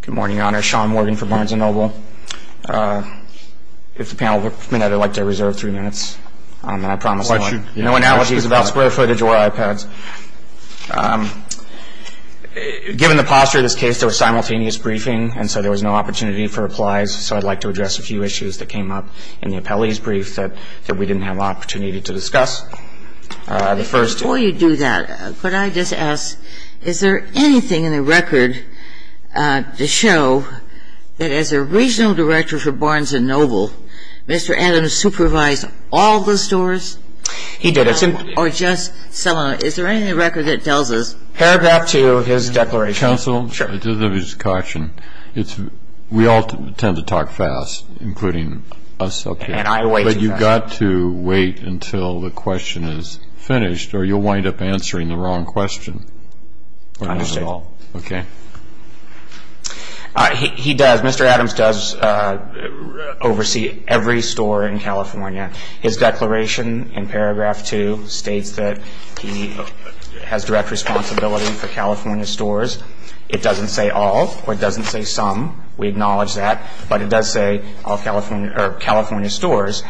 Good morning, Your Honor. Sean Morgan from Barnes and Noble. If the panel would permit, I'd like to reserve three minutes. And I promise no analyses about square footage or iPads. Given the posture of this case, there was simultaneous briefing, and so there was no opportunity for replies. So I'd like to address a few issues that came up in the appellee's brief that we didn't have an opportunity to discuss. Before you do that, could I just ask, is there anything in the record to show that as a regional director for Barnes and Noble, Mr. Adams supervised all the stores? He did. Or just some of them. Is there anything in the record that tells us? Paragraph 2, his declaration. Counsel. Sure. This is a caution. We all tend to talk fast, including us up here. And I wait. But you've got to wait until the question is finished, or you'll wind up answering the wrong question. I understand. Okay. He does. Mr. Adams does oversee every store in California. His declaration in paragraph 2 states that he has direct responsibility for California stores. It doesn't say all or it doesn't say some. We acknowledge that. But it does say all California stores.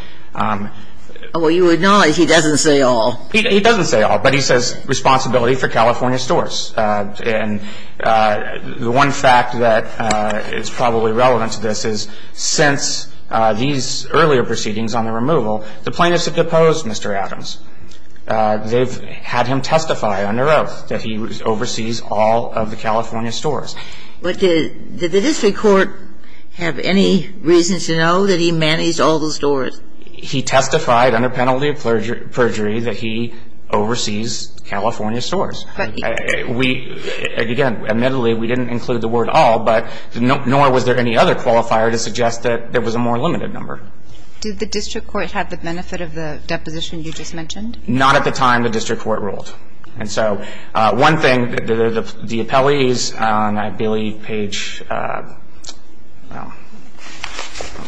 Well, you acknowledge he doesn't say all. He doesn't say all. But he says responsibility for California stores. And the one fact that is probably relevant to this is since these earlier proceedings on the removal, the plaintiffs have deposed Mr. Adams. They've had him testify under oath that he oversees all of the California stores. But did the district court have any reason to know that he managed all those stores? He testified under penalty of perjury that he oversees California stores. We, again, admittedly, we didn't include the word all, but nor was there any other qualifier to suggest that there was a more limited number. Did the district court have the benefit of the deposition you just mentioned? Not at the time the district court ruled. And so one thing, the appellees on, I believe, page, well,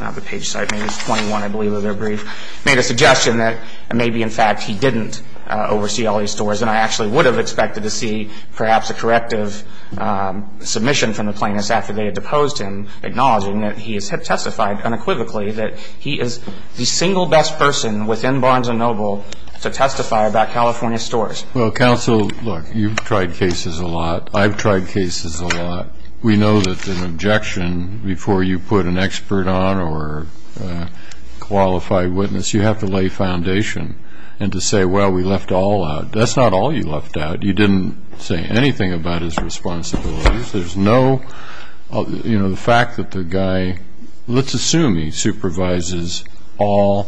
not the page, sorry, page 21, I believe, of their brief, made a suggestion that maybe, in fact, he didn't oversee all these stores. And I actually would have expected to see perhaps a corrective submission from the plaintiffs acknowledging that he has testified unequivocally that he is the single best person within Barnes & Noble to testify about California stores. Well, counsel, look, you've tried cases a lot. I've tried cases a lot. We know that an objection, before you put an expert on or a qualified witness, you have to lay foundation and to say, well, we left all out. That's not all you left out. You didn't say anything about his responsibilities. There's no, you know, the fact that the guy, let's assume he supervises all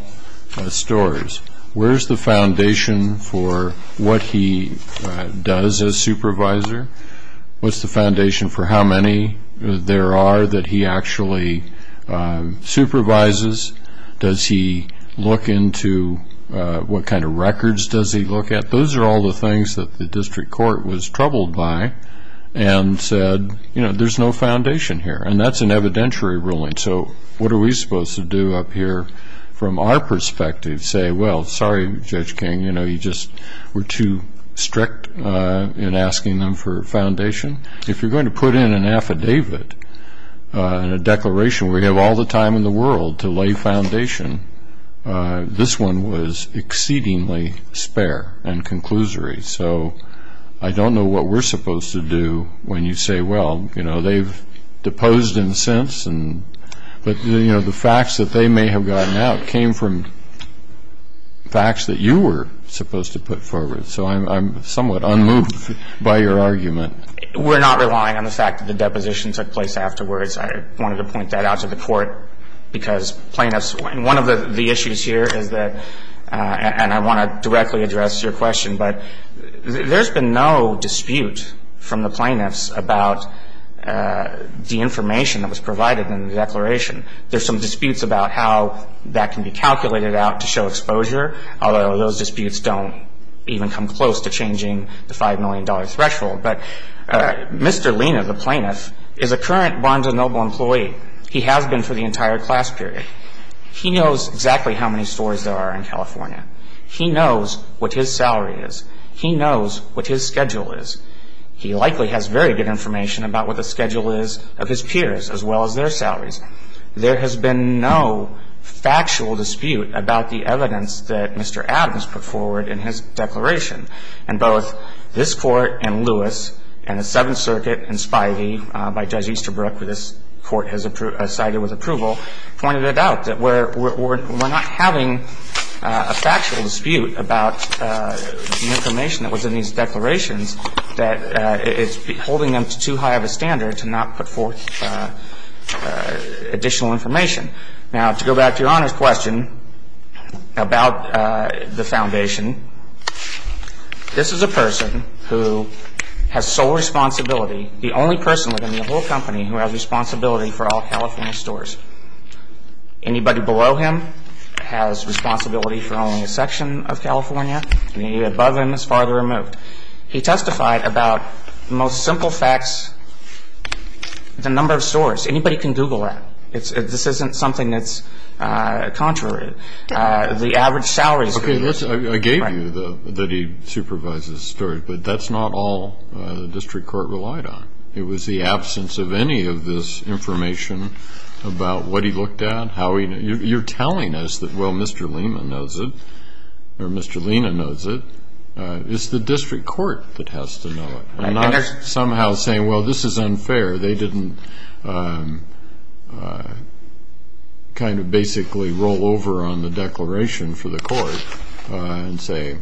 stores. Where's the foundation for what he does as supervisor? What's the foundation for how many there are that he actually supervises? Does he look into what kind of records does he look at? Those are all the things that the district court was troubled by. And said, you know, there's no foundation here. And that's an evidentiary ruling. So what are we supposed to do up here from our perspective? Say, well, sorry, Judge King, you know, you just were too strict in asking them for foundation. If you're going to put in an affidavit and a declaration where you have all the time in the world to lay foundation, this one was exceedingly spare and conclusory. So I don't know what we're supposed to do when you say, well, you know, they've deposed him since. But, you know, the facts that they may have gotten out came from facts that you were supposed to put forward. So I'm somewhat unmoved by your argument. We're not relying on the fact that the deposition took place afterwards. I wanted to point that out to the court because plaintiffs, and one of the issues here is that, and I want to directly address your question, but there's been no dispute from the plaintiffs about the information that was provided in the declaration. There's some disputes about how that can be calculated out to show exposure, although those disputes don't even come close to changing the $5 million threshold. But Mr. Lena, the plaintiff, is a current Bonds & Noble employee. He has been for the entire class period. He knows exactly how many stores there are in California. He knows what his salary is. He knows what his schedule is. He likely has very good information about what the schedule is of his peers as well as their salaries. There has been no factual dispute about the evidence that Mr. Adams put forward in his declaration. And both this Court and Lewis and the Seventh Circuit and Spivey by Judge Easterbrook, who this Court has cited with approval, pointed it out, that we're not having a factual dispute about the information that was in these declarations, that it's holding them to too high of a standard to not put forth additional information. Now, to go back to Your Honor's question about the foundation, this is a person who has sole responsibility, the only person within the whole company who has responsibility for all California stores. Anybody below him has responsibility for only a section of California. Anybody above him is farther removed. He testified about the most simple facts, the number of stores. Anybody can Google that. This isn't something that's contrary. The average salary is $50. Yes, I gave you that he supervises stores, but that's not all the district court relied on. It was the absence of any of this information about what he looked at, how he knew. You're telling us that, well, Mr. Lehman knows it, or Mr. Lehman knows it. It's the district court that has to know it. I'm not somehow saying, well, this is unfair. They didn't kind of basically roll over on the declaration for the court and say,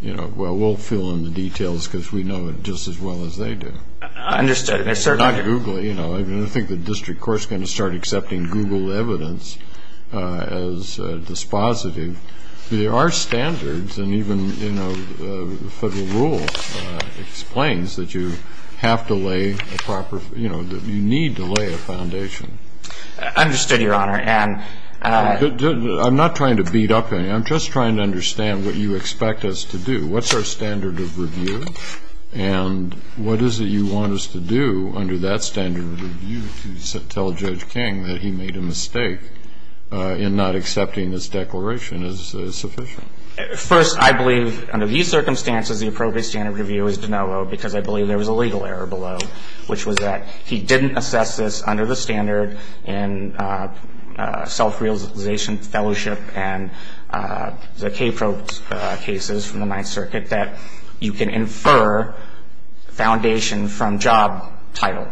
you know, well, we'll fill in the details because we know it just as well as they do. I understand. It's not Googley. I think the district court is going to start accepting Google evidence as dispositive. There are standards, and even the federal rule explains that you need to lay a foundation. Understood, Your Honor. I'm not trying to beat up on you. I'm just trying to understand what you expect us to do. What's our standard of review? And what is it you want us to do under that standard of review to tell Judge King that he made a mistake in not accepting this declaration as sufficient? First, I believe under these circumstances the appropriate standard of review is de novo because I believe there was a legal error below, which was that he didn't assess this under the standard in self-realization, fellowship, and the K-Probes cases from the Ninth Circuit that you can infer foundation from job title.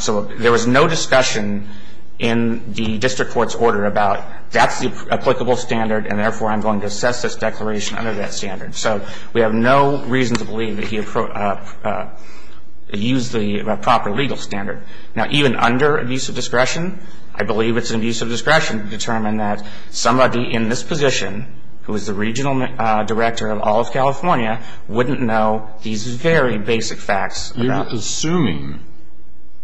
So there was no discussion in the district court's order about that's the applicable standard, and therefore I'm going to assess this declaration under that standard. So we have no reason to believe that he used the proper legal standard. Now, even under abuse of discretion, I believe it's an abuse of discretion to determine that somebody in this position, who is the regional director of all of California, wouldn't know these very basic facts. You're assuming.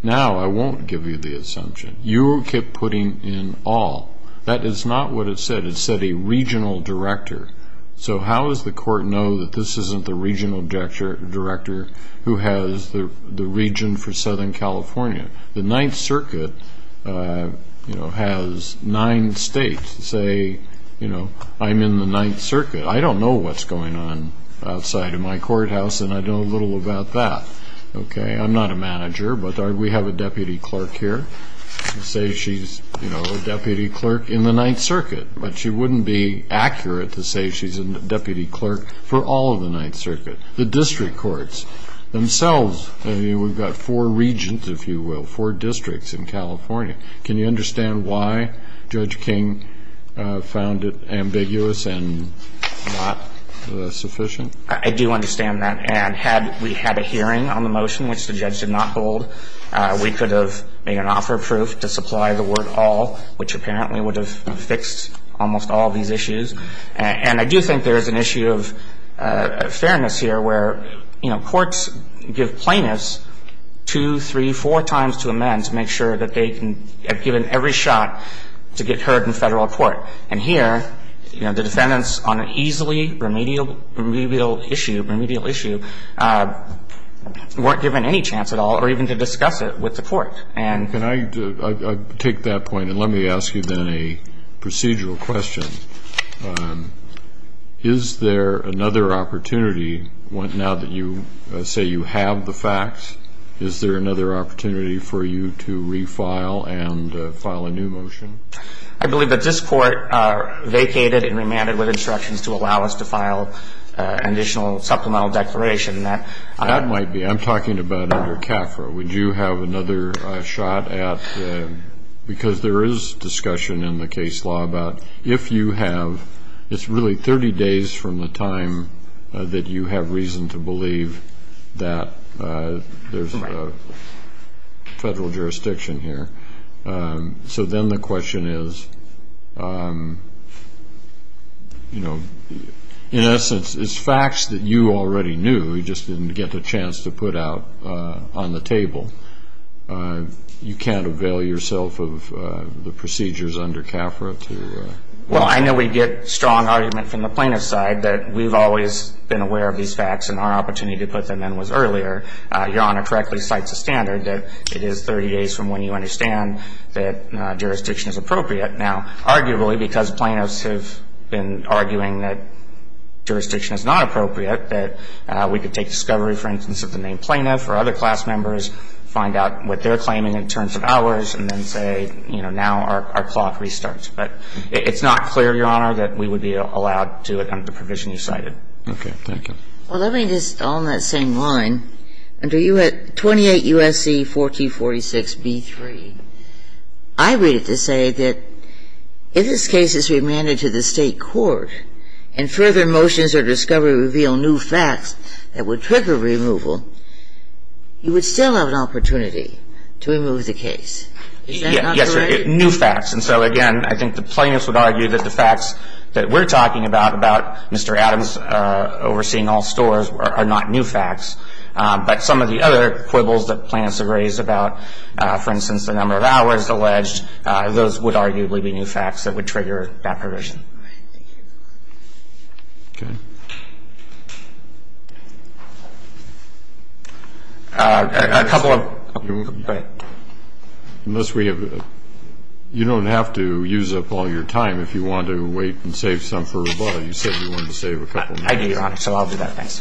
Now I won't give you the assumption. You keep putting in all. That is not what it said. It said a regional director. So how does the court know that this isn't the regional director who has the region for Southern California? The Ninth Circuit has nine states say, you know, I'm in the Ninth Circuit. I don't know what's going on outside of my courthouse, and I know little about that. Okay? I'm not a manager, but we have a deputy clerk here. Say she's, you know, a deputy clerk in the Ninth Circuit, but she wouldn't be accurate to say she's a deputy clerk for all of the Ninth Circuit. The district courts themselves, we've got four regions, if you will, four districts in California. I'm not a manager. I don't know what's going on outside of my courthouse. Okay. Can you understand why Judge King found it ambiguous and not sufficient? I do understand that. And had we had a hearing on the motion, which the judge did not hold, we could have made an offer of proof to supply the word all, which apparently would have fixed almost all these issues. And I do think there is an issue of fairness here where, you know, courts give plaintiffs two, three, four times to amend to make sure that they can be given every shot to get heard in Federal court. And here, you know, the defendants on an easily remedial issue, remedial issue, weren't given any chance at all or even to discuss it with the court. And the court is not going to do that. Is there another opportunity now that you say you have the facts, is there another opportunity for you to refile and file a new motion? I believe that this court vacated and remanded with instructions to allow us to file an additional supplemental declaration. That might be. I'm talking about under CAFRA. Would you have another shot at, because there is discussion in the case law about, if you have, it's really 30 days from the time that you have reason to believe that there's a Federal jurisdiction here. So then the question is, you know, in essence, it's facts that you already knew, you just didn't get the chance to put out on the table. You can't avail yourself of the procedures under CAFRA to? Well, I know we get strong argument from the plaintiff's side that we've always been aware of these facts and our opportunity to put them in was earlier. Your Honor correctly cites a standard that it is 30 days from when you understand that jurisdiction is appropriate. Now, arguably, because plaintiffs have been arguing that jurisdiction is not appropriate, that we could take discovery, for instance, of the named plaintiff or other class members, find out what they're claiming in terms of ours, and then say, you know, now our clock restarts. But it's not clear, Your Honor, that we would be allowed to do it under the provision you cited. Okay. Thank you. Well, let me just, on that same line, under 28 U.S.C. 1446b3, I read it to say that if this case is remanded to the State court and further motions or discovery that would trigger removal, you would still have an opportunity to remove the case. Is that not correct? Yes, Your Honor. New facts. And so, again, I think the plaintiffs would argue that the facts that we're talking about, about Mr. Adams overseeing all stores, are not new facts. But some of the other quibbles that plaintiffs have raised about, for instance, the number of hours alleged, those would arguably be new facts that would trigger that provision. All right. Thank you. Okay. A couple of... Unless we have... You don't have to use up all your time if you want to wait and save some for Roboto. You said you wanted to save a couple minutes. I do, Your Honor. So I'll do that. Thanks.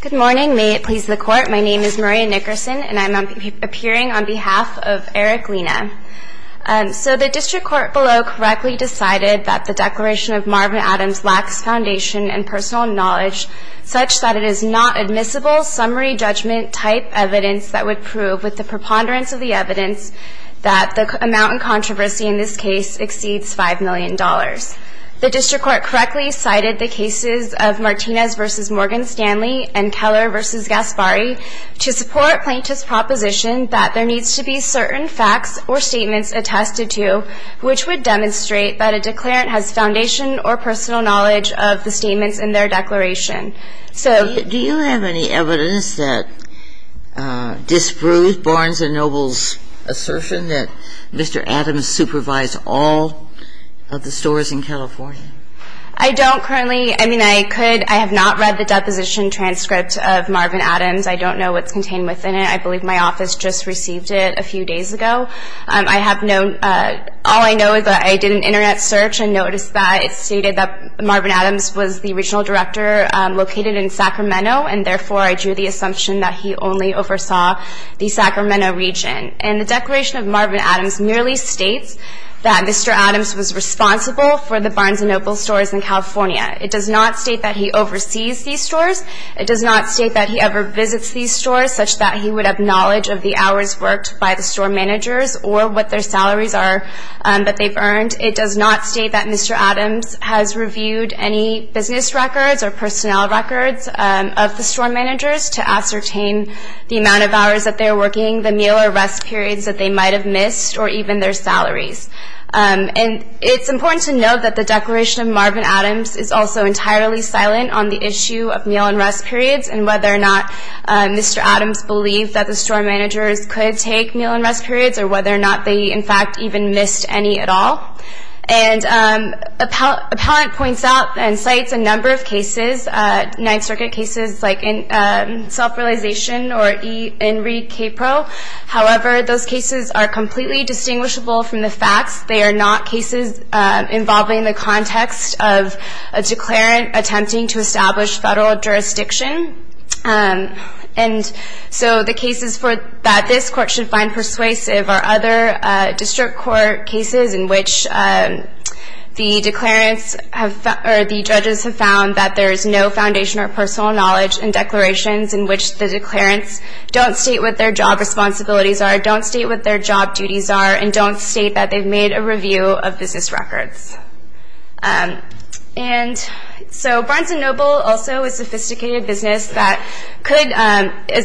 Good morning. May it please the Court. My name is Maria Nickerson, and I'm appearing on behalf of Eric Lina. So the district court below correctly decided that the declaration of Marvin Adams lacks foundation and personal knowledge such that it is not admissible summary judgment type evidence that would prove, with the preponderance of the evidence, that the amount in controversy in this case exceeds $5 million. The district court correctly cited the cases of Martinez v. Morgan Stanley and Keller v. Gasparri to support Plaintiff's proposition that there needs to be certain facts or statements attested to which would demonstrate that a declarant has foundation or personal knowledge of the statements in their declaration. So... Do you have any evidence that disproves Barnes & Noble's assertion that Mr. Adams supervised all of the stores in California? I don't currently. I mean, I could. I have not read the deposition transcript of Marvin Adams. I don't know what's contained within it. I believe my office just received it a few days ago. I have no ñ all I know is that I did an Internet search and noticed that it stated that Marvin Adams was the original director located in Sacramento, and therefore I drew the assumption that he only oversaw the Sacramento region. And the declaration of Marvin Adams merely states that Mr. Adams was responsible for the Barnes & Noble stores in California. It does not state that he oversees these stores. It does not state that he ever visits these stores, such that he would have knowledge of the hours worked by the store managers or what their salaries are that they've earned. It does not state that Mr. Adams has reviewed any business records or personnel records of the store managers to ascertain the amount of hours that they're working, the meal or rest periods that they might have missed, or even their salaries. And it's important to note that the declaration of Marvin Adams is also entirely silent on the issue of meal and rest periods and whether or not Mr. Adams believed that the store managers could take meal and rest periods or whether or not they, in fact, even missed any at all. And Appellant points out and cites a number of cases, Ninth Circuit cases like self-realization or Enrique Capro. However, those cases are completely distinguishable from the facts. They are not cases involving the context of a declarant attempting to establish federal jurisdiction. And so the cases that this court should find persuasive are other district court cases in which the declarants or the judges have found that there is no foundation or personal knowledge in declarations in which the declarants don't state what their job responsibilities are, don't state what their job duties are, and don't state that they've made a review of business records. And so Barnes & Noble also is a sophisticated business that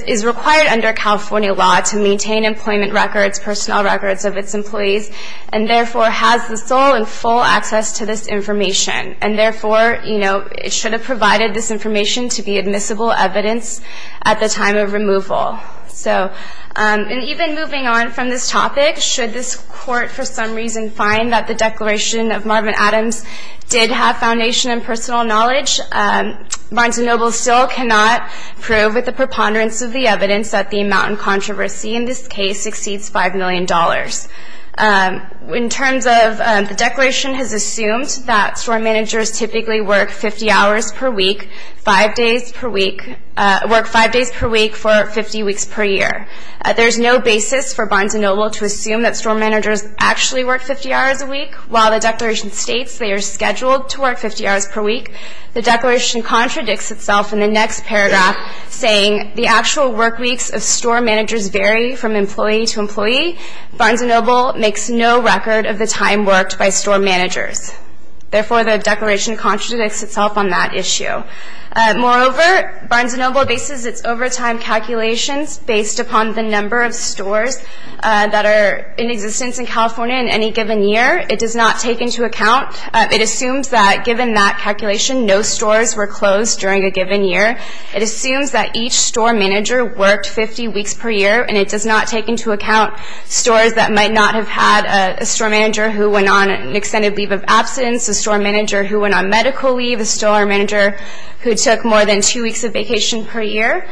is required under California law to maintain employment records, personnel records of its employees, and therefore has the sole and full access to this information. And therefore, you know, it should have provided this information to be admissible evidence at the time of removal. So and even moving on from this topic, should this court for some reason find that the declaration of Marvin Adams did have foundation and personal knowledge, Barnes & Noble still cannot prove with the preponderance of the evidence that the amount in controversy in this case exceeds $5 million. In terms of the declaration has assumed that store managers typically work 50 hours per week, five days per week, work five days per week for 50 weeks per year. There's no basis for Barnes & Noble to assume that store managers actually work 50 hours a week. While the declaration states they are scheduled to work 50 hours per week, the declaration contradicts itself in the next paragraph, saying the actual work weeks of store managers vary from employee to employee. Barnes & Noble makes no record of the time worked by store managers. Therefore, the declaration contradicts itself on that issue. Moreover, Barnes & Noble bases its overtime calculations based upon the number of stores that are in existence in California in any given year. It does not take into account. It assumes that given that calculation, no stores were closed during a given year. It assumes that each store manager worked 50 weeks per year, and it does not take into account stores that might not have had a store manager who went on an extended leave of absence, a store manager who went on medical leave, a store manager who took more than two weeks of vacation per year.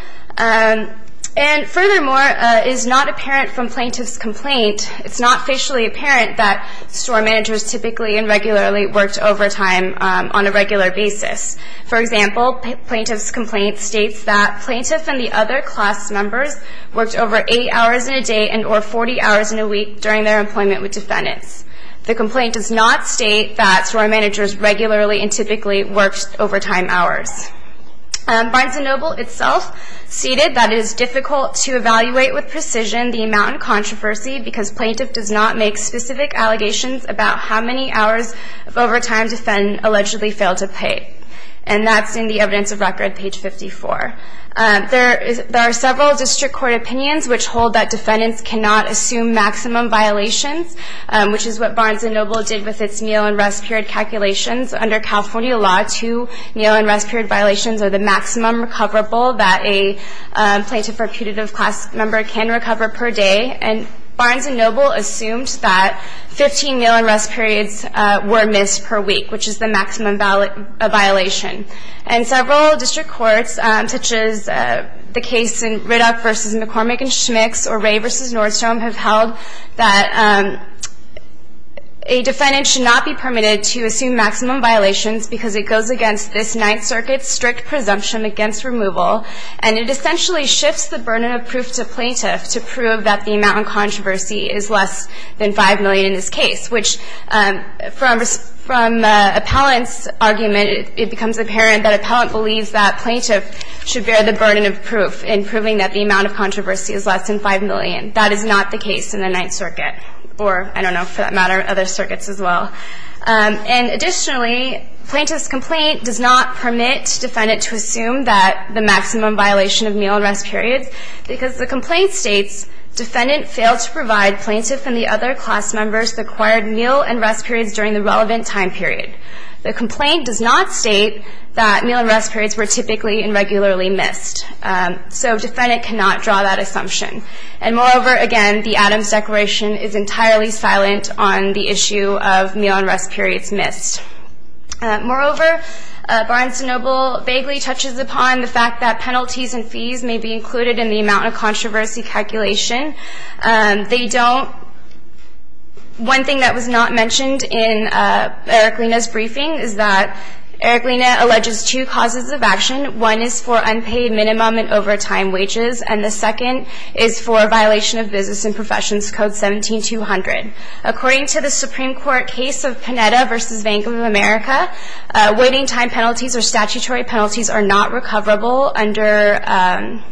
And furthermore, it is not apparent from plaintiff's complaint, it's not facially apparent that store managers typically and regularly worked overtime on a regular basis. For example, plaintiff's complaint states that plaintiff and the other class members worked over eight hours in a day and or 40 hours in a week during their employment with defendants. The complaint does not state that store managers regularly and typically worked overtime hours. Barnes & Noble itself stated that it is difficult to evaluate with precision the amount in controversy because plaintiff does not make specific allegations about how many hours of overtime defendants allegedly failed to pay. And that's in the evidence of record, page 54. There are several district court opinions which hold that defendants cannot assume maximum violations, which is what Barnes & Noble did with its meal and rest period calculations. Under California law, two meal and rest period violations are the maximum recoverable that a plaintiff or putative class member can recover per day. And Barnes & Noble assumed that 15 meal and rest periods were missed per week, which is the maximum violation. And several district courts, such as the case in Riddock v. McCormick & Schmitz or Ray v. Nordstrom, have held that a defendant should not be permitted to assume maximum violations because it goes against this Ninth Circuit's strict presumption against removal. And it essentially shifts the burden of proof to plaintiff to prove that the amount in controversy is less than 5 million in this case, which from appellant's argument, it becomes apparent that appellant believes that plaintiff should bear the burden of proof in proving that the amount of controversy is less than 5 million. That is not the case in the Ninth Circuit or, I don't know, for that matter, other circuits as well. And additionally, plaintiff's complaint does not permit defendant to assume that the maximum violation of meal and rest periods because the complaint states, defendant failed to provide plaintiff and the other class members the required meal and rest periods during the relevant time period. The complaint does not state that meal and rest periods were typically and regularly missed. So defendant cannot draw that assumption. And moreover, again, the Adams Declaration is entirely silent on the issue of meal and rest periods missed. Moreover, Barnes & Noble vaguely touches upon the fact that penalties and fees may be included in the amount of controversy calculation. They don't, one thing that was not mentioned in Eric Lina's briefing is that Eric Lina alleges two causes of action. One is for unpaid minimum and overtime wages. And the second is for violation of Business and Professions Code 17-200. According to the Supreme Court case of Panetta v. Bank of America, waiting time penalties or statutory penalties are not recoverable under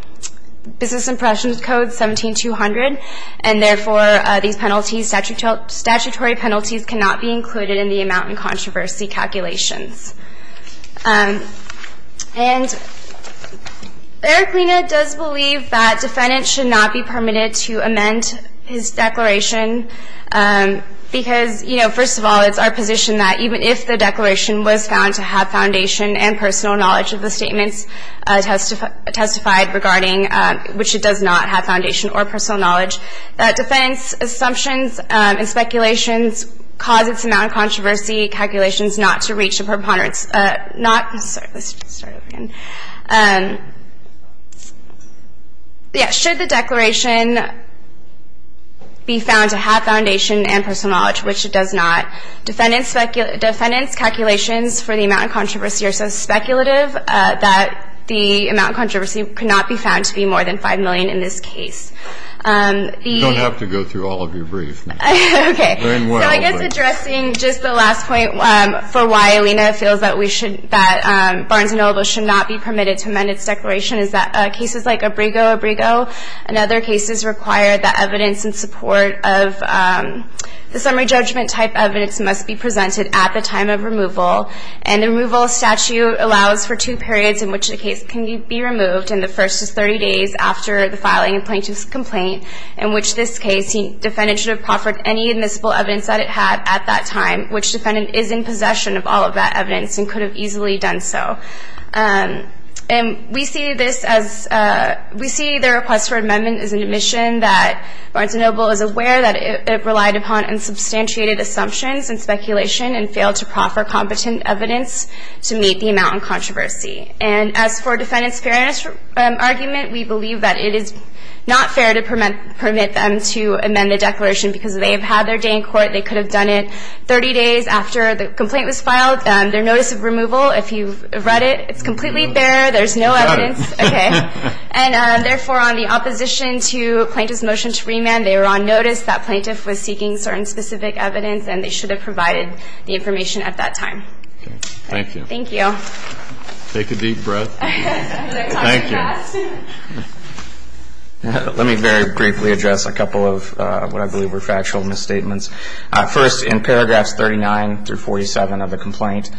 Business and Professions Code 17-200. And therefore, these penalties, statutory penalties, cannot be included in the amount of controversy calculations. And Eric Lina does believe that defendants should not be permitted to amend his declaration because, you know, first of all, it's our position that even if the declaration was found to have foundation and personal knowledge of the statements testified regarding which it does not have foundation or personal knowledge, that defendants' assumptions and speculations cause its amount of controversy calculations not to reach a preponderance, not, sorry, let's start over again. Yeah, should the declaration be found to have foundation and personal knowledge, which it does not, defendants' calculations for the amount of controversy are so speculative that the amount of controversy could not be found to be more than $5 million in this case. You don't have to go through all of your briefs. Okay. Very well. So I guess addressing just the last point for why Lina feels that we should, that Barnes & Noble should not be permitted to amend its declaration is that cases like Abrego, Abrego, and other cases require that evidence in support of the summary judgment type evidence must be presented at the time of removal. And the removal statute allows for two periods in which the case can be removed, and the first is 30 days after the filing of plaintiff's complaint, in which this case the defendant should have proffered any admissible evidence that it had at that time, which defendant is in possession of all of that evidence and could have easily done so. And we see this as, we see the request for amendment as an admission that Barnes & Noble is aware that it relied upon unsubstantiated assumptions and speculation and failed to proffer competent evidence to meet the amount of controversy. And as for defendant's fairness argument, we believe that it is not fair to permit them to amend the declaration because they have had their day in court. They could have done it 30 days after the complaint was filed. Their notice of removal, if you've read it, it's completely bare. There's no evidence. Got it. Okay. And therefore, on the opposition to plaintiff's motion to remand, they were on notice that plaintiff was seeking certain specific evidence and they should have provided the information at that time. Okay. Thank you. Thank you. Take a deep breath. Thank you. Let me very briefly address a couple of what I believe were factual misstatements. First, in paragraphs 39 through 47 of the complaint,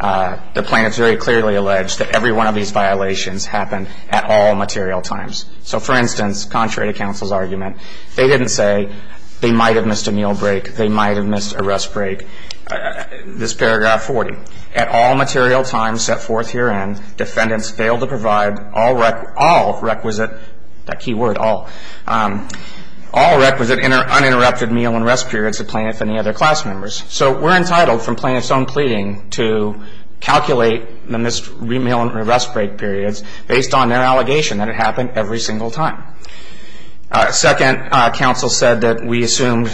the plaintiff's very clearly alleged that every one of these violations happened at all material times. So, for instance, contrary to counsel's argument, they didn't say they might have missed a meal break, they might have missed a rest break. This paragraph 40, at all material times set forth herein, defendants failed to provide all requisite, that key word all, all requisite uninterrupted meal and rest periods to plaintiff and the other class members. So we're entitled from plaintiff's own pleading to calculate the missed meal and rest break periods based on their allegation that it happened every single time. Second, counsel said that we assumed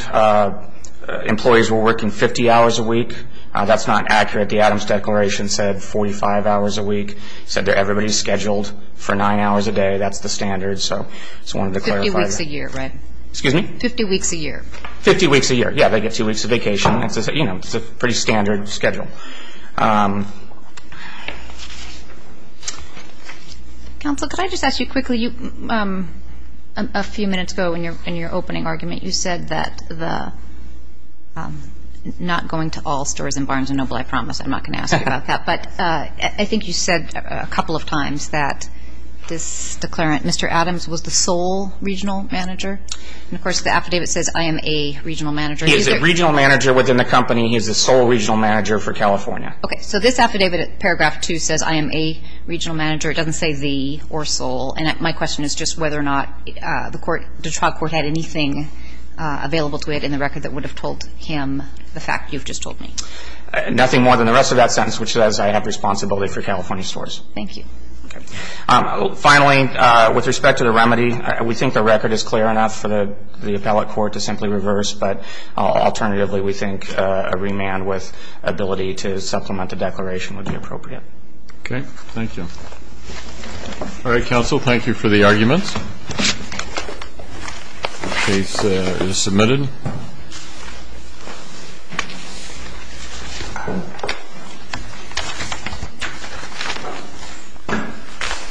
employees were working 50 hours a week. That's not accurate. The Adams Declaration said 45 hours a week. It said that everybody's scheduled for nine hours a day. That's the standard, so I just wanted to clarify that. Fifty weeks a year, right? Excuse me? Fifty weeks a year. Fifty weeks a year. Yeah, they get two weeks of vacation. You know, it's a pretty standard schedule. Counsel, could I just ask you quickly, a few minutes ago in your opening argument, you said that the, not going to all stores in Barnes & Noble, I promise, I'm not going to ask you about that, but I think you said a couple of times that this declaration, Mr. Adams was the sole regional manager. And, of course, the affidavit says I am a regional manager. He is a regional manager within the company. He is the sole regional manager for California. Okay. So this affidavit, Paragraph 2, says I am a regional manager. It doesn't say the or sole. And my question is just whether or not the Detroit court had anything available to it in the record that would have told him the fact you've just told me. Nothing more than the rest of that sentence, which says I have responsibility for California stores. Thank you. Okay. Finally, with respect to the remedy, we think the record is clear enough for the appellate court to simply reverse, but alternatively we think a remand with ability to supplement the declaration would be appropriate. Okay. Thank you. All right, counsel, thank you for the arguments. The case is submitted. Thank you.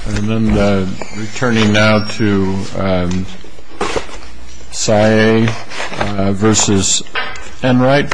And then returning now to Sayegh versus Enright.